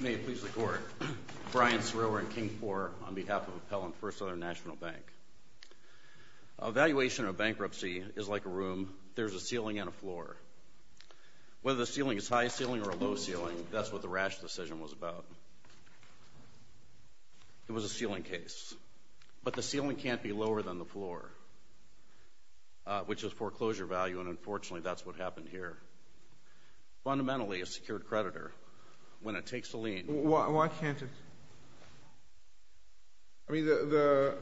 May it please the Court. Brian Cerullo in King 4 on behalf of Appellant First Southern National Bank. Evaluation of bankruptcy is like a room. There's a ceiling and a floor. Whether the ceiling is high ceiling or low ceiling, that's what the Rash decision was about. It was a ceiling case. But the ceiling can't be lower than the floor, which is foreclosure value, and unfortunately that's what happened here. Fundamentally, a secured creditor, when it takes a lien... Why can't it? I mean, the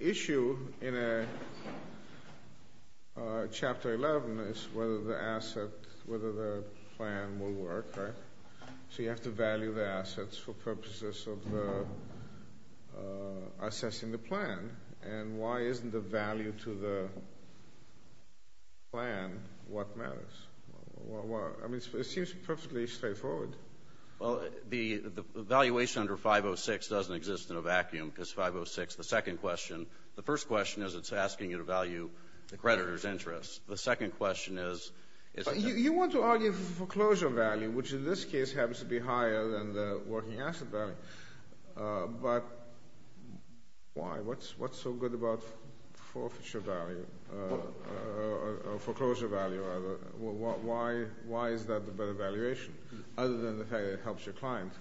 issue in Chapter 11 is whether the asset, whether the plan will work, right? So you have to value the assets for purposes of assessing the plan. And why isn't the value to the plan what matters? I mean, it seems perfectly straightforward. Well, the valuation under 506 doesn't exist in a vacuum because 506, the second question, the first question is it's asking you to value the creditor's interest. The second question is... You want to argue for foreclosure value, which in this case happens to be higher than the working asset value. But why? What's so good about foreclosure value? Why is that the better valuation, other than the fact that it helps your client?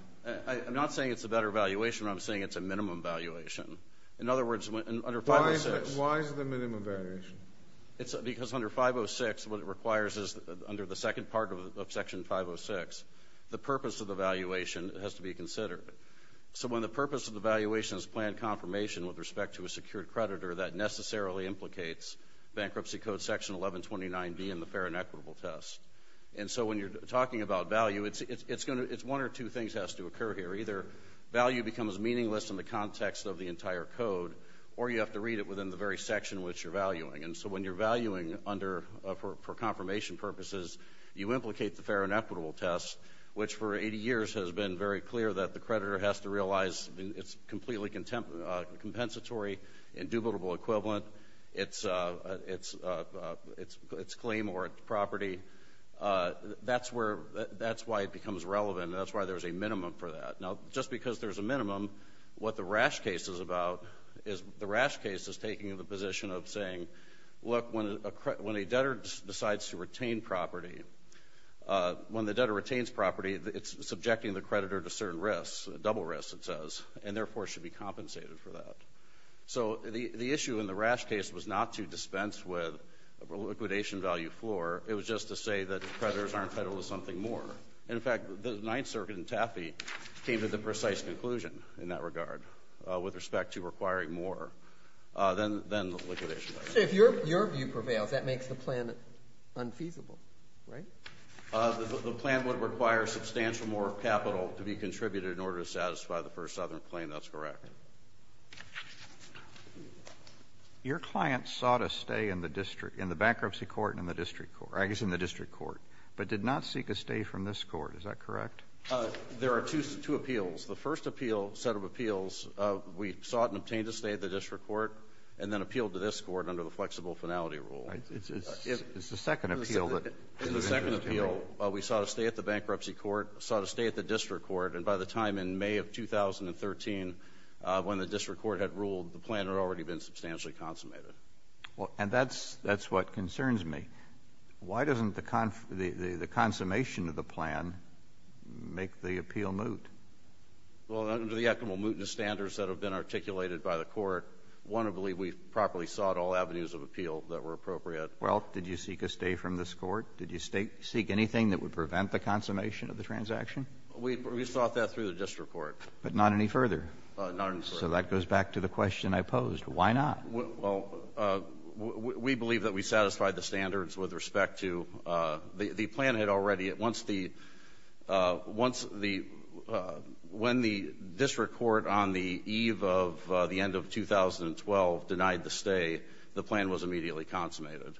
I'm not saying it's a better valuation, but I'm saying it's a minimum valuation. In other words, under 506... Why is it a minimum valuation? Because under 506, what it requires is, under the second part of Section 506, the purpose of the valuation has to be considered. So when the purpose of the valuation is planned confirmation with respect to a secured creditor, that necessarily implicates Bankruptcy Code Section 1129B and the fair and equitable test. And so when you're talking about value, it's one or two things that has to occur here. Either value becomes meaningless in the context of the entire code, or you have to read it within the very section which you're valuing. And so when you're valuing for confirmation purposes, you implicate the fair and equitable test, which for 80 years has been very clear that the creditor has to realize it's completely compensatory, indubitable equivalent, its claim or its property. That's why it becomes relevant. That's why there's a minimum for that. Now, just because there's a minimum, what the rash case is about is the rash case is taking the position of saying, look, when a debtor decides to retain property, when the debtor retains property, it's subjecting the creditor to certain risks, double risks it says, and therefore should be compensated for that. So the issue in the rash case was not to dispense with a liquidation value floor. It was just to say that creditors aren't entitled to something more. In fact, the Ninth Circuit in Taffy came to the precise conclusion in that regard with respect to requiring more than the liquidation value. So if your view prevails, that makes the plan unfeasible, right? The plan would require substantial more capital to be contributed in order to satisfy the first Southern claim. That's correct. Your client sought a stay in the district, in the bankruptcy court and in the district court, or I guess in the district court, but did not seek a stay from this court. Is that correct? There are two appeals. The first appeal, set of appeals, we sought and obtained a stay at the district court and then appealed to this court under the flexible finality rule. Right. It's the second appeal. In the second appeal, we sought a stay at the bankruptcy court, sought a stay at the district court. And by the time in May of 2013, when the district court had ruled, the plan had already been substantially consummated. Well, and that's what concerns me. Why doesn't the consummation of the plan make the appeal moot? Well, under the equitable mootness standards that have been articulated by the court, one, I believe we properly sought all avenues of appeal that were appropriate. Well, did you seek a stay from this court? Did you seek anything that would prevent the consummation of the transaction? We sought that through the district court. But not any further? Not any further. So that goes back to the question I posed. Why not? Well, we believe that we satisfied the standards with respect to the plan had already at once the, once the, when the district court on the eve of the end of 2012 denied the stay, the plan was immediately consummated.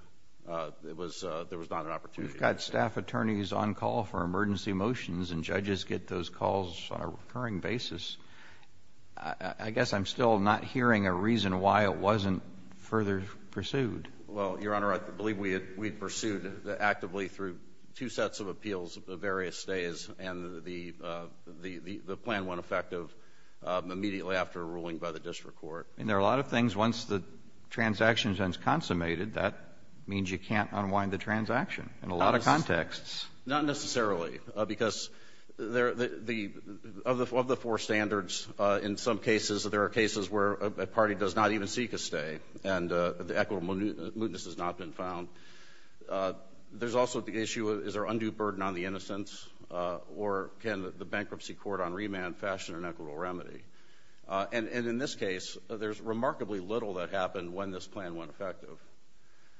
It was, there was not an opportunity. We've got staff attorneys on call for emergency motions, and judges get those calls on a recurring basis. I guess I'm still not hearing a reason why it wasn't further pursued. Well, Your Honor, I believe we had, we pursued actively through two sets of appeals of various stays, and the, the plan went effective immediately after a ruling by the district court. I mean, there are a lot of things once the transaction is consummated, that means you can't unwind the transaction in a lot of contexts. Not necessarily, because there, the, of the, of the four standards, in some cases there are cases where a party does not even seek a stay, and the equitable mootness has not been found. There's also the issue, is there undue burden on the innocence, or can the bankruptcy court on remand fashion an equitable remedy? And, and in this case, there's remarkably little that happened when this plan went effective.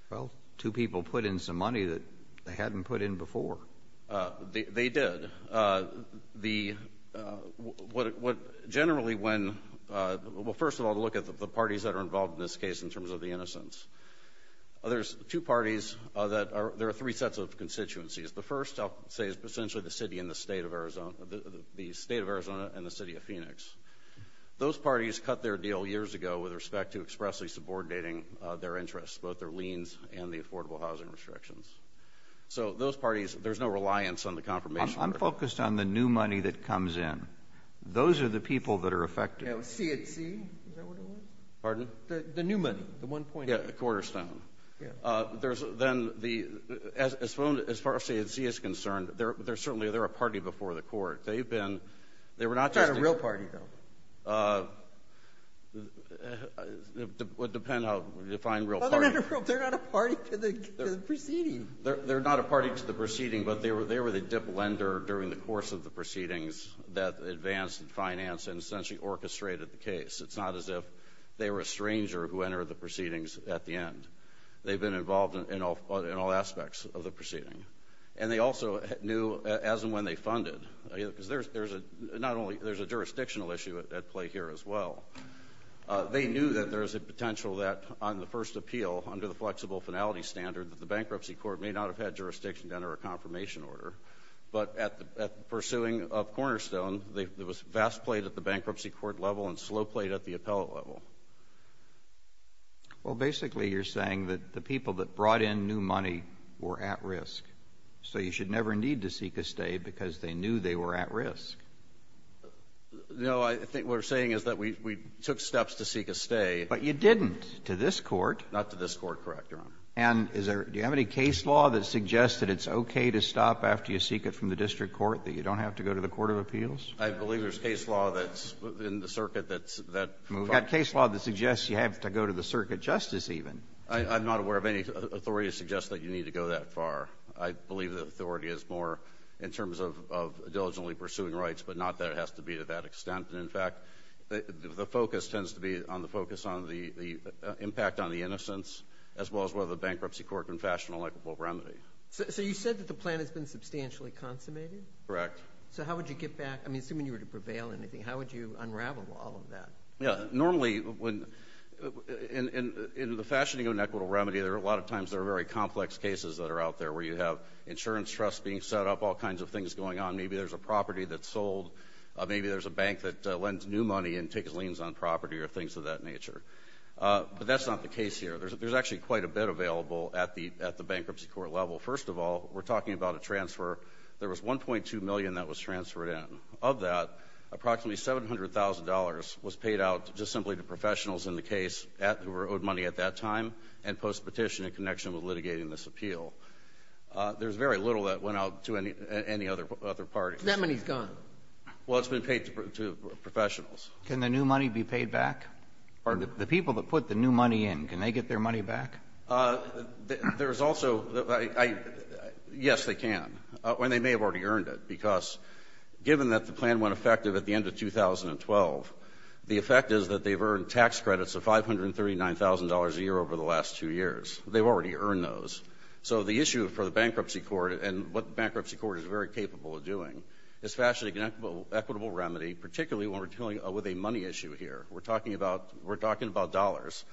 Well, two people put in some money that they hadn't put in before. They, they did. The, what, what, generally when, well, first of all, to look at the, the parties that are involved in this case in terms of the innocence. There's two parties that are, there are three sets of constituencies. The first, I'll say, is essentially the city and the state of Arizona, the, the, the state of Arizona and the city of Phoenix. Those parties cut their deal years ago with respect to expressly subordinating their interests, both their liens and the affordable housing restrictions. So, those parties, there's no reliance on the confirmation. I'm, I'm focused on the new money that comes in. Those are the people that are affected. Yeah, with C&C, is that what it was? Pardon? The, the new money, the one point. Yeah, the quarterstone. Yeah. There's then the, as, as far as C&C is concerned, they're, they're certainly, they're a party before the court. They've been, they were not just. It's not a real party, though. It would depend how you define real party. They're not a party to the proceeding. They're, they're not a party to the proceeding, but they were, they were the dip lender during the course of the proceedings that advanced and financed and essentially orchestrated the case. It's not as if they were a stranger who entered the proceedings at the end. They've been involved in all, in all aspects of the proceeding. And they also knew as and when they funded, because there's, there's a, not only, there's a jurisdictional issue at, at play here as well. They knew that there was a potential that on the first appeal, under the flexible finality standard, that the bankruptcy court may not have had jurisdiction to enter a confirmation order. But at the, at the pursuing of cornerstone, there was vast play at the bankruptcy court level and slow play at the appellate level. Well, basically you're saying that the people that brought in new money were at risk. So you should never need to seek a stay because they knew they were at risk. No. I think what we're saying is that we, we took steps to seek a stay. But you didn't to this Court. Not to this Court, correct, Your Honor. And is there, do you have any case law that suggests that it's okay to stop after you seek it from the district court, that you don't have to go to the court of appeals? I believe there's case law that's in the circuit that's, that. We've got case law that suggests you have to go to the circuit justice even. I, I'm not aware of any authority to suggest that you need to go that far. I believe the authority is more in terms of, of diligently pursuing rights, but not that it has to be to that extent. And in fact, the, the focus tends to be on the focus on the, the impact on the innocence as well as whether the bankruptcy court can fashion an equitable remedy. So, so you said that the plan has been substantially consummated? Correct. So how would you get back, I mean, assuming you were to prevail in anything, how would you unravel all of that? Yeah. Normally when, in, in, in the fashioning of an equitable remedy, there are a lot of times there are very complex cases that are out there where you have insurance trusts being set up, all kinds of things going on. Maybe there's a property that's sold. Maybe there's a bank that lends new money and takes liens on property or things of that nature. But that's not the case here. There's actually quite a bit available at the, at the bankruptcy court level. First of all, we're talking about a transfer. There was 1.2 million that was transferred in. Of that, approximately $700,000 was paid out just simply to professionals in the past time and postpetition in connection with litigating this appeal. There's very little that went out to any, any other, other parties. That money's gone. Well, it's been paid to professionals. Can the new money be paid back? Pardon? The people that put the new money in, can they get their money back? There's also, I, I, yes, they can. And they may have already earned it, because given that the plan went effective at the end of 2012, the effect is that they've earned tax credits of $539,000 a year over the last two years. They've already earned those. So the issue for the bankruptcy court and what the bankruptcy court is very capable of doing is fashion an equitable, equitable remedy, particularly when we're dealing with a money issue here. We're talking about, we're talking about dollars.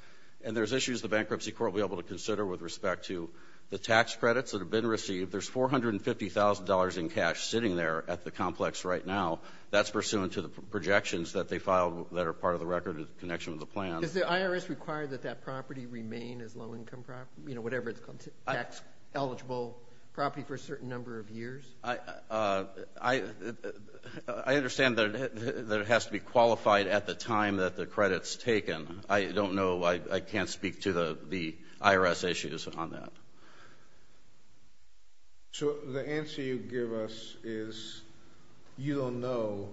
And there's issues the bankruptcy court will be able to consider with respect to the tax credits that have been received. There's $450,000 in cash sitting there at the complex right now. That's pursuant to the projections that they filed that are part of the record in connection with the plan. Is the IRS required that that property remain as low-income property, you know, whatever it's called, tax-eligible property for a certain number of years? I understand that it has to be qualified at the time that the credit's taken. I don't know. I can't speak to the IRS issues on that. So the answer you give us is you don't know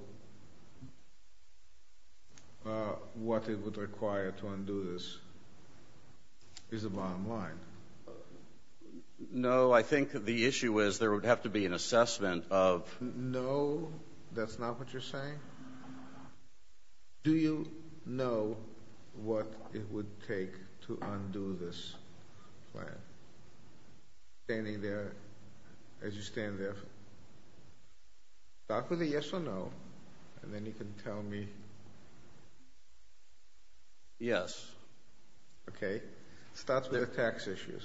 what it would require to undo this is the bottom line. No, I think the issue is there would have to be an assessment of. No, that's not what you're saying? Do you know what it would take to undo this plan? Standing there, as you stand there, start with a yes or no, and then you can tell me. Yes. Okay. Start with the tax issues.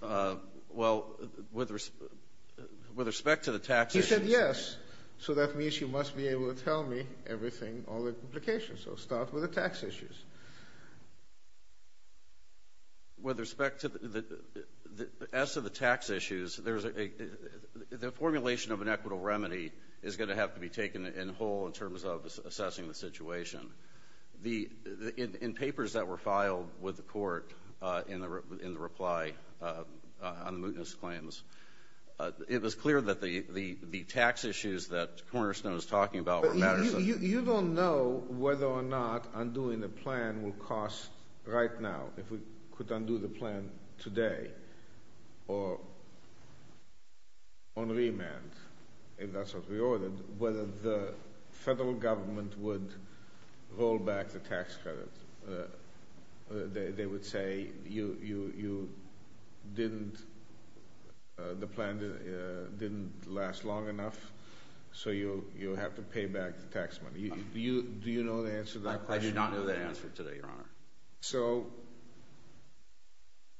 Well, with respect to the tax issues. He said yes. So that means you must be able to tell me everything, all the implications. So start with the tax issues. With respect to the tax issues, the formulation of an equitable remedy is going to have to be taken in whole in terms of assessing the situation. In papers that were filed with the court in the reply on the mootness claims, it was clear that the tax issues that Cornerstone was talking about were matters of— You don't know whether or not undoing the plan will cost, right now, if we could undo the plan today, or on remand, if that's what we ordered, whether the federal government would roll back the tax credit. They would say the plan didn't last long enough, so you'll have to pay back the tax money. Do you know the answer to that question? I do not know the answer to that, Your Honor. So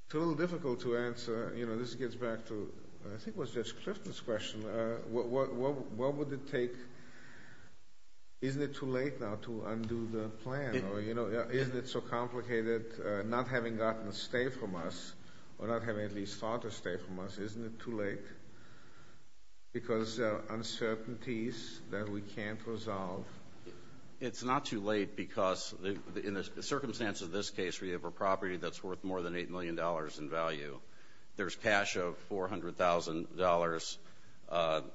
it's a little difficult to answer. This gets back to, I think it was Judge Clifton's question. What would it take—isn't it too late now to undo the plan? Isn't it so complicated, not having gotten a stay from us, or not having at least thought of a stay from us, isn't it too late? Because there are uncertainties that we can't resolve. It's not too late because in the circumstance of this case, we have a property that's worth more than $8 million in value. There's cash of $400,000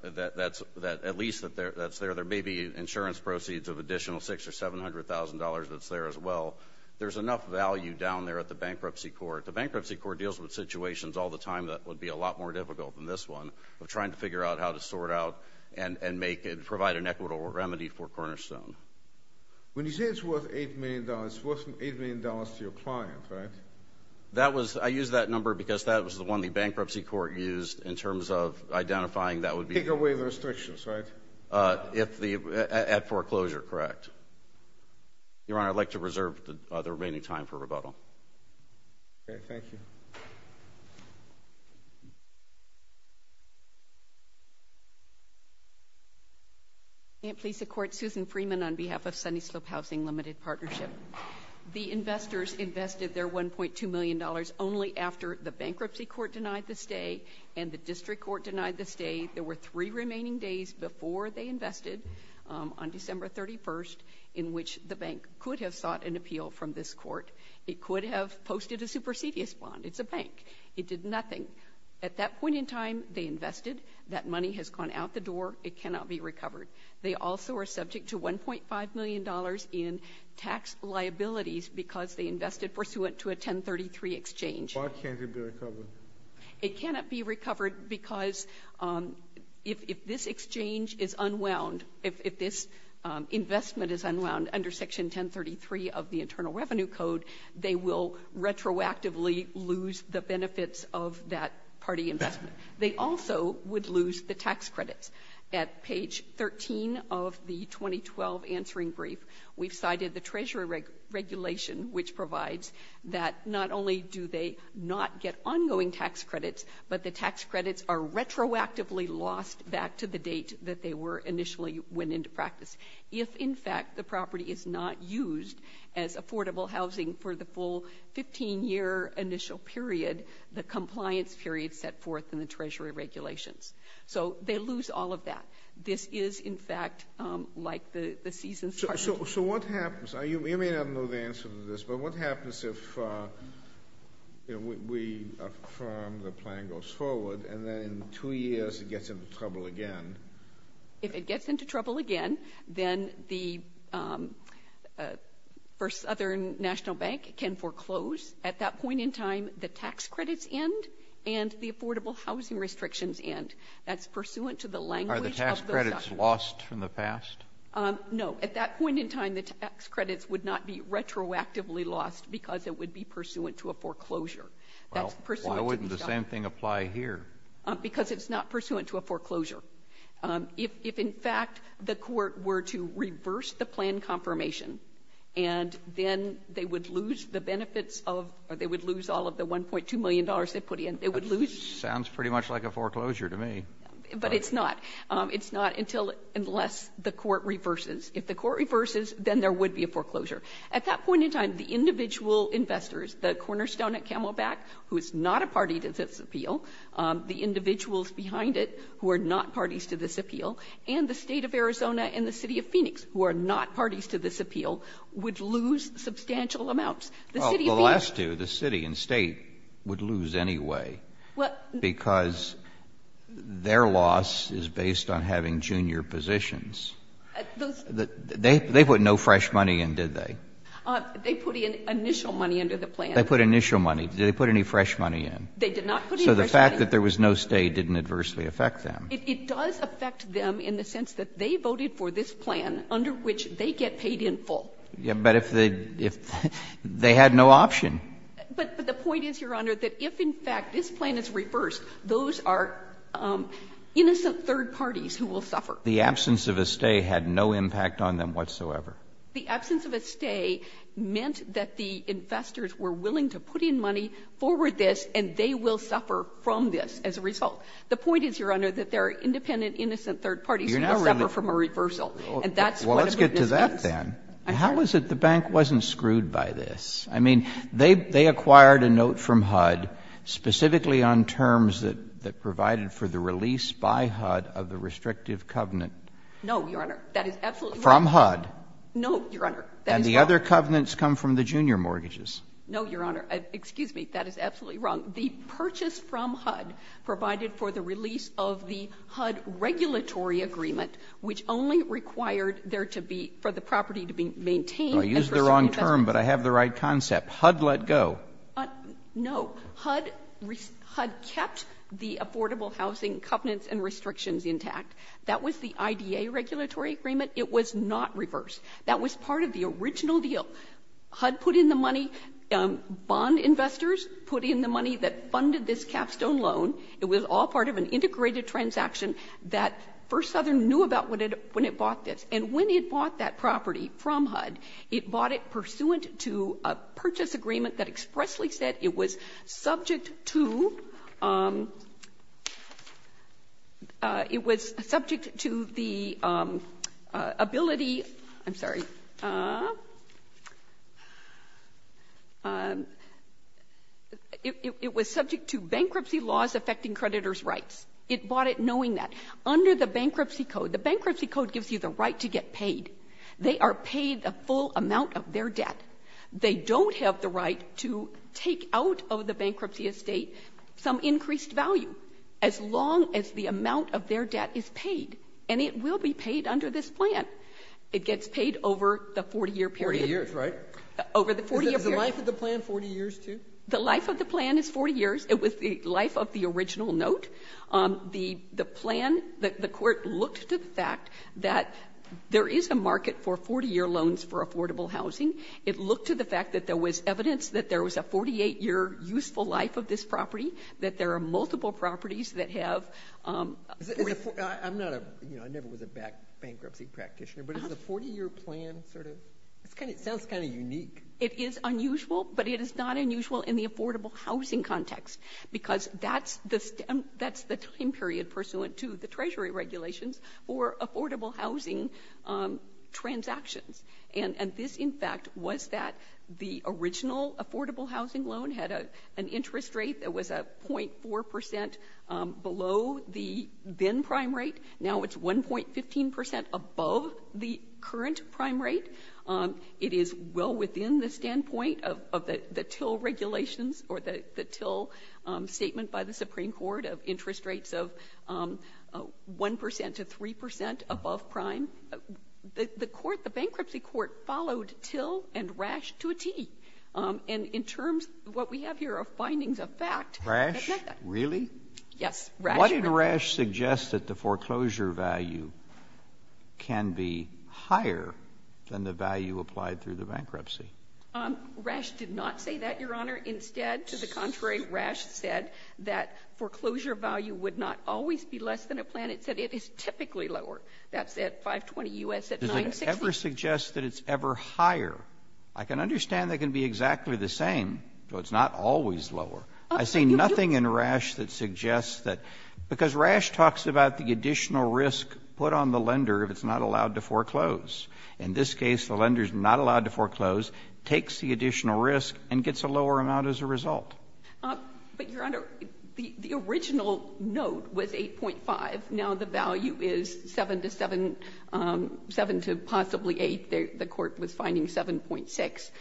that's there. There may be insurance proceeds of an additional $600,000 or $700,000 that's there as well. There's enough value down there at the bankruptcy court. The bankruptcy court deals with situations all the time that would be a lot more difficult than this one, of trying to figure out how to sort out and provide an equitable remedy for Cornerstone. When you say it's worth $8 million, it's worth $8 million to your client, right? That was—I used that number because that was the one the bankruptcy court used in terms of identifying that would be— Take away the restrictions, right? If the—at foreclosure, correct. Your Honor, I'd like to reserve the remaining time for rebuttal. Okay, thank you. May it please the Court, Susan Freeman on behalf of Sunny Slope Housing Limited Partnership. The investors invested their $1.2 million only after the bankruptcy court denied the stay and the district court denied the stay. There were three remaining days before they invested on December 31st in which the bank could have sought an appeal from this court. It could have posted a supersedious bond. It's a bank. It did nothing. At that point in time, they invested. That money has gone out the door. It cannot be recovered. They also are subject to $1.5 million in tax liabilities because they invested pursuant to a 1033 exchange. Why can't it be recovered? It cannot be recovered because if this exchange is unwound, if this investment is unwound under Section 1033 of the Internal Revenue Code, they will retroactively lose the benefits of that party investment. They also would lose the tax credits. At page 13 of the 2012 answering brief, we've cited the Treasury regulation which provides that not only do they not get ongoing tax credits, but the tax credits are retroactively lost back to the date that they were initially went into practice. If, in fact, the property is not used as affordable housing for the full 15-year initial period, the compliance period set forth in the Treasury regulations. So they lose all of that. This is, in fact, like the season's target. So what happens? You may not know the answer to this, but what happens if we affirm the plan goes forward and then in two years it gets into trouble again? If it gets into trouble again, then the Southern National Bank can foreclose at that point in time the tax credits end and the affordable housing restrictions end. That's pursuant to the language of the Southern National Bank. Kennedy, are the tax credits lost from the past? No. At that point in time, the tax credits would not be retroactively lost because it would be pursuant to a foreclosure. That's pursuant to the Southern National Bank. Well, why wouldn't the same thing apply here? Because it's not pursuant to a foreclosure. If, in fact, the Court were to reverse the plan confirmation and then they would lose the benefits of or they would lose all of the $1.2 million they put in, they would lose. Sounds pretty much like a foreclosure to me. But it's not. It's not until unless the Court reverses. If the Court reverses, then there would be a foreclosure. At that point in time, the individual investors, the cornerstone at Camelback who is not a party to this appeal, the individuals behind it who are not parties to this appeal, and the State of Arizona and the City of Phoenix who are not parties to this appeal, would lose substantial amounts. The City of Phoenix. Well, the last two, the City and State, would lose anyway, because their loss is based on having junior positions. They put no fresh money in, did they? They put initial money under the plan. They put initial money. Did they put any fresh money in? They did not put any fresh money in. So the fact that there was no stay didn't adversely affect them. It does affect them in the sense that they voted for this plan under which they get paid in full. But if they had no option. But the point is, Your Honor, that if in fact this plan is reversed, those are innocent third parties who will suffer. The absence of a stay had no impact on them whatsoever. The absence of a stay meant that the investors were willing to put in money, forward this, and they will suffer from this as a result. The point is, Your Honor, that there are independent innocent third parties who will suffer from a reversal. And that's one of the reasons. And so we get to that then. And how is it the bank wasn't screwed by this? I mean, they acquired a note from HUD specifically on terms that provided for the release by HUD of the restrictive covenant. No, Your Honor. That is absolutely wrong. From HUD? No, Your Honor. That is wrong. And the other covenants come from the junior mortgages. No, Your Honor. Excuse me. That is absolutely wrong. The purchase from HUD provided for the release of the HUD regulatory agreement, which only required there to be for the property to be maintained and for some investment. I used the wrong term, but I have the right concept. HUD let go. No. HUD kept the affordable housing covenants and restrictions intact. That was the IDA regulatory agreement. It was not reversed. That was part of the original deal. HUD put in the money. Bond investors put in the money that funded this capstone loan. It was all part of an integrated transaction that First Southern knew about when it bought this. And when it bought that property from HUD, it bought it pursuant to a purchase agreement that expressly said it was subject to the ability to, I'm sorry, it was subject to the ability to purchase a property. And it bought it knowing that. It bought it knowing that. It bought it knowing that. It bought it knowing that. Under the bankruptcy code, the bankruptcy code gives you the right to get paid. They are paid the full amount of their debt. They don't have the right to take out of the bankruptcy estate some increased value as long as the amount of their debt is paid. And it will be paid under this plan. It gets paid over the 40-year period. Over the 40 years, right? Over the 40 years. Is the life of the plan 40 years, too? The life of the plan is 40 years. It was the life of the original note. The plan, the court looked to the fact that there is a market for 40-year loans for affordable housing. It looked to the fact that there was evidence that there was a 48-year useful life of this property, that there are multiple properties that have 40 years. I'm not a, you know, I never was a bankruptcy practitioner, but is a 40-year plan sort of? It sounds kind of unique. It is unusual, but it is not unusual in the affordable housing context because that's the time period pursuant to the Treasury regulations for affordable housing transactions. And this, in fact, was that the original affordable housing loan had an interest rate that was a 0.4 percent below the then prime rate. Now it's 1.15 percent above the current prime rate. It is well within the standpoint of the Till regulations or the Till statement by the Supreme Court of interest rates of 1 percent to 3 percent above prime. The court, the bankruptcy court, followed Till and Rash to a tee. And in terms of what we have here are findings of fact. That meant that. Really? Rash. Why did Rash suggest that the foreclosure value can be higher than the value applied through the bankruptcy? Rash did not say that, Your Honor. Instead, to the contrary, Rash said that foreclosure value would not always be less than a plan. It said it is typically lower. That's at 520 U.S. at 960. Does it ever suggest that it's ever higher? I can understand they can be exactly the same, but it's not always lower. I see nothing in Rash that suggests that, because Rash talks about the additional risk put on the lender if it's not allowed to foreclose. In this case, the lender is not allowed to foreclose, takes the additional risk, and gets a lower amount as a result. But, Your Honor, the original note was 8.5. Now the value is 7 to 7, 7 to possibly 8. The court was finding 7.6.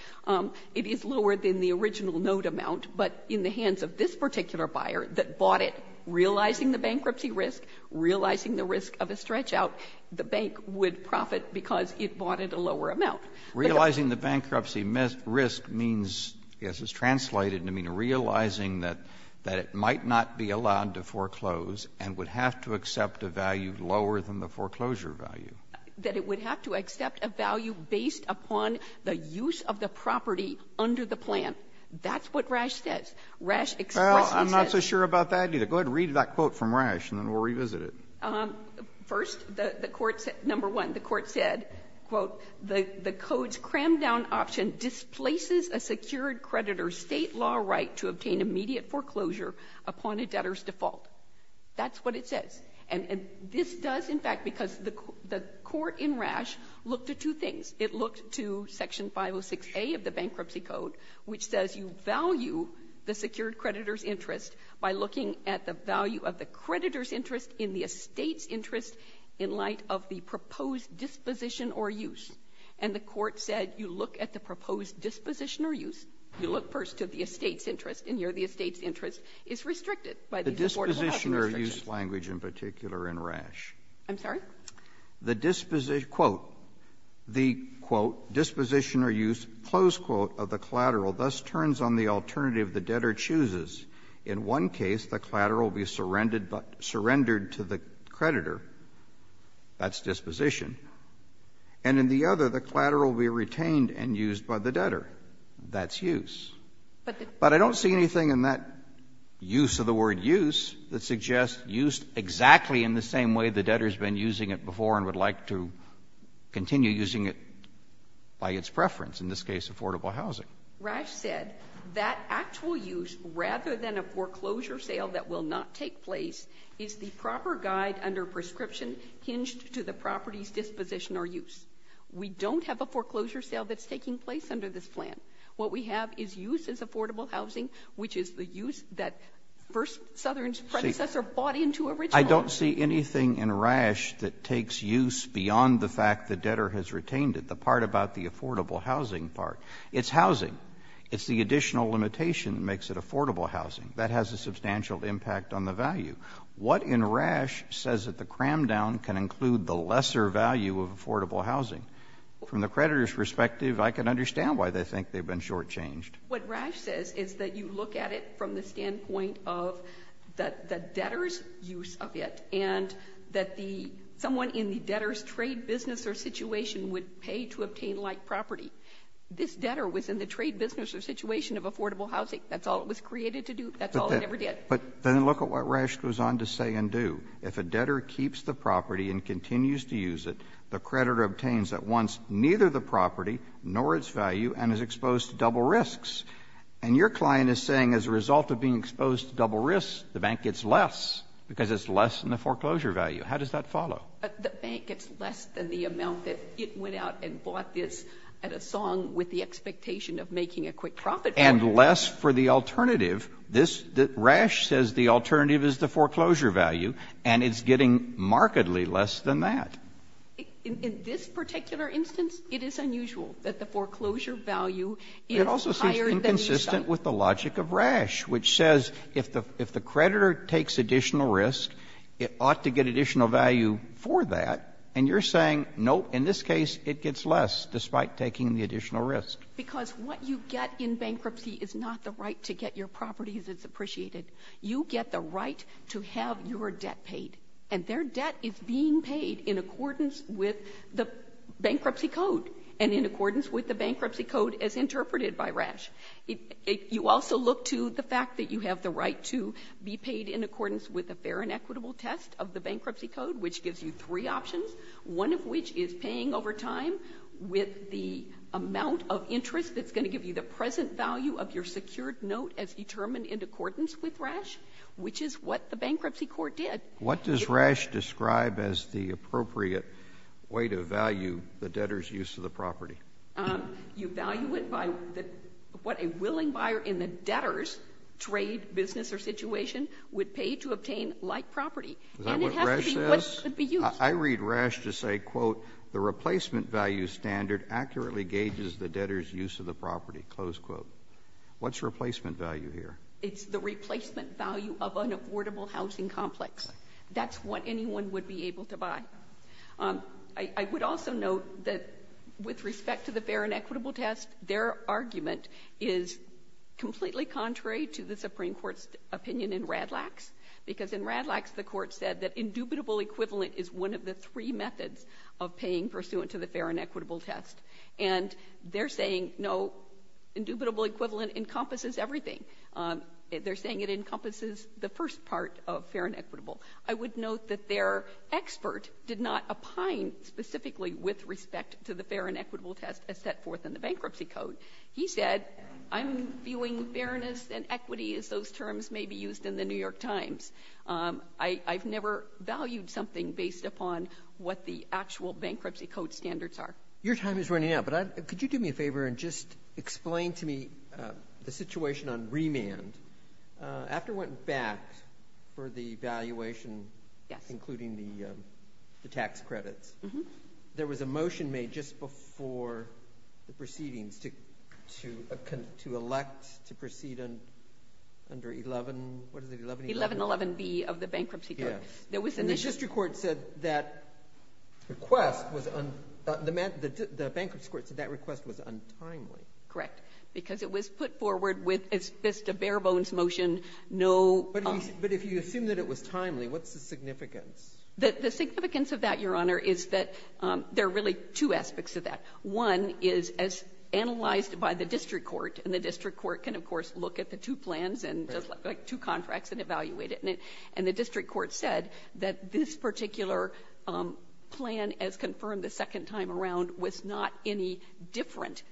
It is lower than the original note amount, but in the hands of this particular buyer that bought it, realizing the bankruptcy risk, realizing the risk of a stretch out, the bank would profit because it bought at a lower amount. Realizing the bankruptcy risk means, yes, it's translated to mean realizing that it might not be allowed to foreclose and would have to accept a value lower than the foreclosure value. That it would have to accept a value based upon the use of the property under the plan. That's what Rash says. Rash expresses that. Kennedy, I'm not so sure about that either. Go ahead and read that quote from Rash, and then we'll revisit it. First, the court said no. 1, the court said, quote, the code's cram-down option displaces a secured creditor's State law right to obtain immediate foreclosure upon a debtor's default. That's what it says. And this does, in fact, because the court in Rash looked at two things. It looked to Section 506a of the Bankruptcy Code, which says you value the secured creditor's interest by looking at the value of the creditor's interest in the estate's interest in light of the proposed disposition or use. And the court said you look at the proposed disposition or use, you look first to the estate's interest, and here the estate's interest is restricted by the affordability restriction. And here's the use language in particular in Rash. I'm sorry? The disposition, quote, the, quote, disposition or use, close quote, of the collateral thus turns on the alternative the debtor chooses. In one case the collateral will be surrendered to the creditor. That's disposition. And in the other the collateral will be retained and used by the debtor. That's use. But I don't see anything in that use of the word use that suggests use exactly in the same way the debtor's been using it before and would like to continue using it by its preference, in this case affordable housing. Rash said that actual use, rather than a foreclosure sale that will not take place, is the proper guide under prescription hinged to the property's disposition or use. We don't have a foreclosure sale that's taking place under this plan. What we have is use as affordable housing, which is the use that first Southern's predecessor bought into original. I don't see anything in Rash that takes use beyond the fact the debtor has retained it, the part about the affordable housing part. It's housing. It's the additional limitation that makes it affordable housing. That has a substantial impact on the value. What in Rash says that the cram down can include the lesser value of affordable housing? From the creditor's perspective, I can understand why they think they've been shortchanged. What Rash says is that you look at it from the standpoint of the debtor's use of it and that the someone in the debtor's trade business or situation would pay to obtain like property. This debtor was in the trade business or situation of affordable housing. That's all it was created to do. That's all it ever did. But then look at what Rash goes on to say and do. If a debtor keeps the property and continues to use it, the creditor obtains at once neither the property nor its value and is exposed to double risks. And your client is saying as a result of being exposed to double risks, the bank gets less because it's less than the foreclosure value. How does that follow? But the bank gets less than the amount that it went out and bought this at a song with the expectation of making a quick profit. And less for the alternative. This, Rash says the alternative is the foreclosure value. And it's getting markedly less than that. In this particular instance, it is unusual that the foreclosure value is higher than the sum. It also seems inconsistent with the logic of Rash, which says if the creditor takes additional risk, it ought to get additional value for that. And you're saying, nope, in this case it gets less despite taking the additional risk. Because what you get in bankruptcy is not the right to get your property that's appreciated. You get the right to have your debt paid. And their debt is being paid in accordance with the bankruptcy code and in accordance with the bankruptcy code as interpreted by Rash. You also look to the fact that you have the right to be paid in accordance with the fair and equitable test of the bankruptcy code, which gives you three options, one of which is paying over time with the amount of interest that's going to give you, the present value of your secured note as determined in accordance with Rash, which is what the bankruptcy court did. What does Rash describe as the appropriate way to value the debtor's use of the property? You value it by what a willing buyer in the debtor's trade, business, or situation would pay to obtain like property. And it has to be what could be used. I read Rash to say, quote, the replacement value standard accurately gauges the debtor's use of the property, close quote. What's replacement value here? It's the replacement value of an affordable housing complex. That's what anyone would be able to buy. I would also note that with respect to the fair and equitable test, their argument is completely contrary to the Supreme Court's opinion in Radlax, because in Radlax, the court said that indubitable equivalent is one of the three methods of paying pursuant to the fair and equitable test. And they're saying, no, indubitable equivalent encompasses everything. They're saying it encompasses the first part of fair and equitable. I would note that their expert did not opine specifically with respect to the fair and equitable test as set forth in the bankruptcy code. He said, I'm viewing fairness and equity as those terms may be used in The New York Times. I've never valued something based upon what the actual bankruptcy code standards are. Your time is running out, but could you do me a favor and just explain to me the situation on remand? After it went back for the valuation, including the tax credits, there was a motion made just before the proceedings to elect to proceed under 11, what is it, 1111? Yes. The district court said that request was un- the bankruptcy court said that request was untimely. Correct. Because it was put forward with just a bare-bones motion, no- But if you assume that it was timely, what's the significance? The significance of that, Your Honor, is that there are really two aspects of that. One is, as analyzed by the district court, and the district court can, of course, look at the two plans and the two contracts and evaluate it. And the district court said that this particular plan, as confirmed the second time around, was not any different.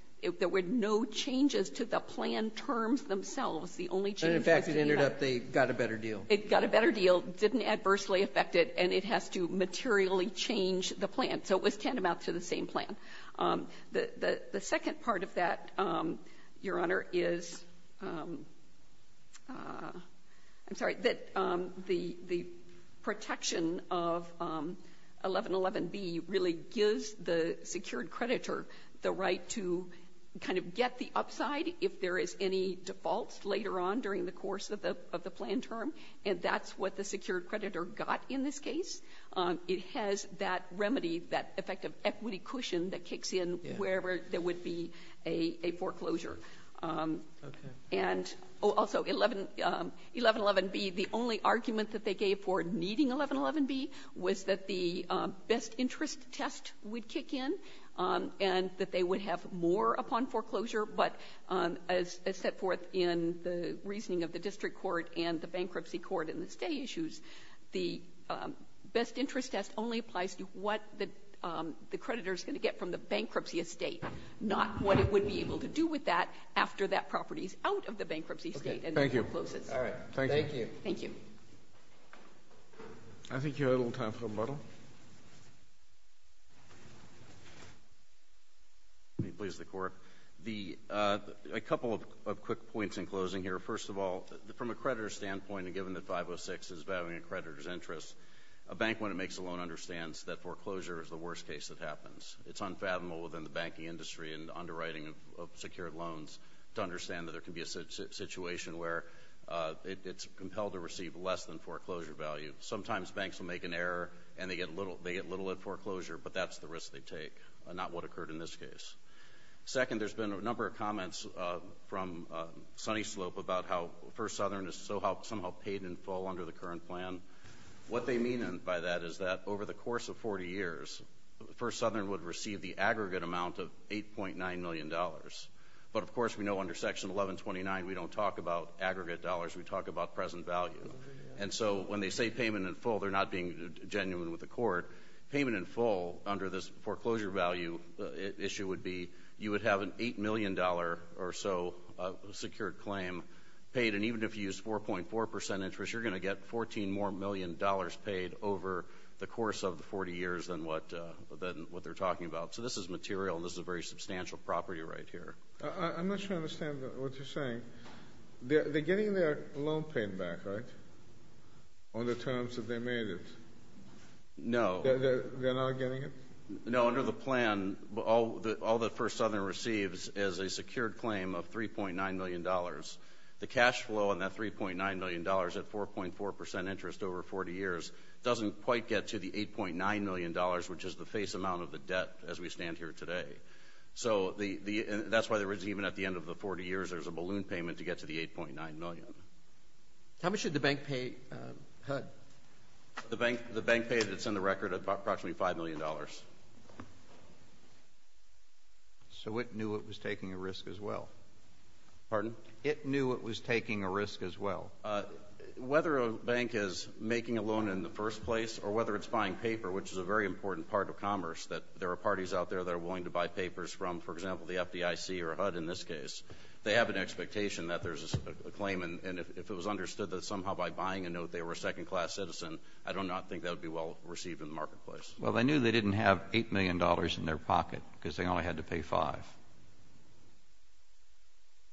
There were no changes to the plan terms themselves. The only change was that they had- And, in fact, it ended up they got a better deal. It got a better deal, didn't adversely affect it, and it has to materially change the plan. So it was tantamount to the same plan. The second part of that, Your Honor, is-I'm sorry-that the protection of 1111B really gives the secured creditor the right to kind of get the upside if there is any defaults later on during the course of the plan term. And that's what the secured creditor got in this case. It has that remedy, that effective equity cushion that kicks in wherever there would be a foreclosure. And also 1111B, the only argument that they gave for needing 1111B was that the best interest test would kick in and that they would have more upon foreclosure. But as set forth in the reasoning of the district court and the bankruptcy court and the stay issues, the best interest test only applies to what the creditor is going to get from the bankruptcy estate, not what it would be able to do with that after that property is out of the bankruptcy state and then closes. Thank you. Thank you. I think you have a little time for rebuttal. Let me please the Court. A couple of quick points in closing here. First of all, from a creditor's standpoint and given that 506 is valuing a creditor's interest, a bank, when it makes a loan, understands that foreclosure is the worst case that happens. It's unfathomable within the banking industry and underwriting of secured loans to understand that there can be a situation where it's compelled to receive less than foreclosure value. Sometimes banks will make an error and they get little at foreclosure, but that's the risk they take, not what occurred in this case. Second, there's been a number of comments from Sunny Slope about how First Southern is somehow paid in full under the current plan. What they mean by that is that over the course of 40 years, First Southern would receive the aggregate amount of $8.9 million. But of course, we know under Section 1129, we don't talk about aggregate dollars. We talk about present value. And so when they say payment in full, they're not being genuine with the Court. Payment in full under this foreclosure value issue would be you would have an $8 million or so secured claim paid. And even if you use 4.4 percent interest, you're going to get $14 more million paid over the course of the 40 years than what they're talking about. So this is material and this is a very substantial property right here. I'm not sure I understand what you're saying. They're getting their loan paid back, right, on the terms that they made it? No. They're not getting it? No. Under the plan, all that First Southern receives is a secured claim of $3.9 million. The cash flow on that $3.9 million at 4.4 percent interest over 40 years doesn't quite get to the $8.9 million, which is the face amount of the debt as we stand here today. So that's why even at the end of the 40 years, there's a balloon payment to get to the $8.9 million. How much did the bank pay HUD? The bank paid, it's in the record, approximately $5 million. So it knew it was taking a risk as well? Pardon? It knew it was taking a risk as well? Whether a bank is making a loan in the first place or whether it's buying paper, which is a very important part of commerce, that there are parties out there that are willing to buy papers from, for example, the FDIC or HUD in this case, they have an expectation that there's a claim. And if it was understood that somehow by buying a note they were a second-class citizen, I do not think that would be well received in the marketplace. Well, they knew they didn't have $8 million in their pocket because they only had to pay 5.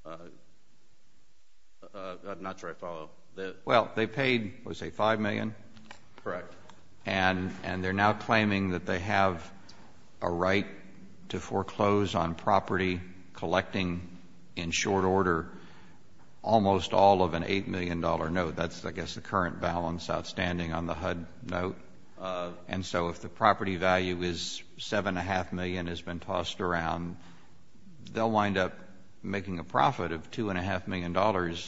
I'm not sure I follow. Well, they paid, let's say, 5 million? Correct. And they're now claiming that they have a right to foreclose on property collecting in short order almost all of an $8 million note. That's, I guess, the current balance outstanding on the HUD note. And so if the property value is $7.5 million has been tossed around, they'll wind up making a profit of $2.5 million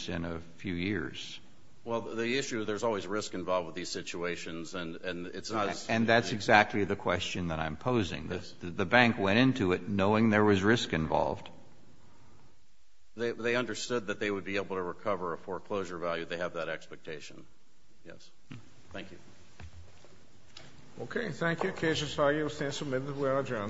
in a few years. Well, the issue, there's always risk involved with these situations. And it's not as easy to do. And that's exactly the question that I'm posing. The bank went into it knowing there was risk involved. They understood that they would be able to recover a foreclosure value. They have that expectation. Yes. Thank you. Okay. Thank you. Cases filed stand submitted. We are adjourned.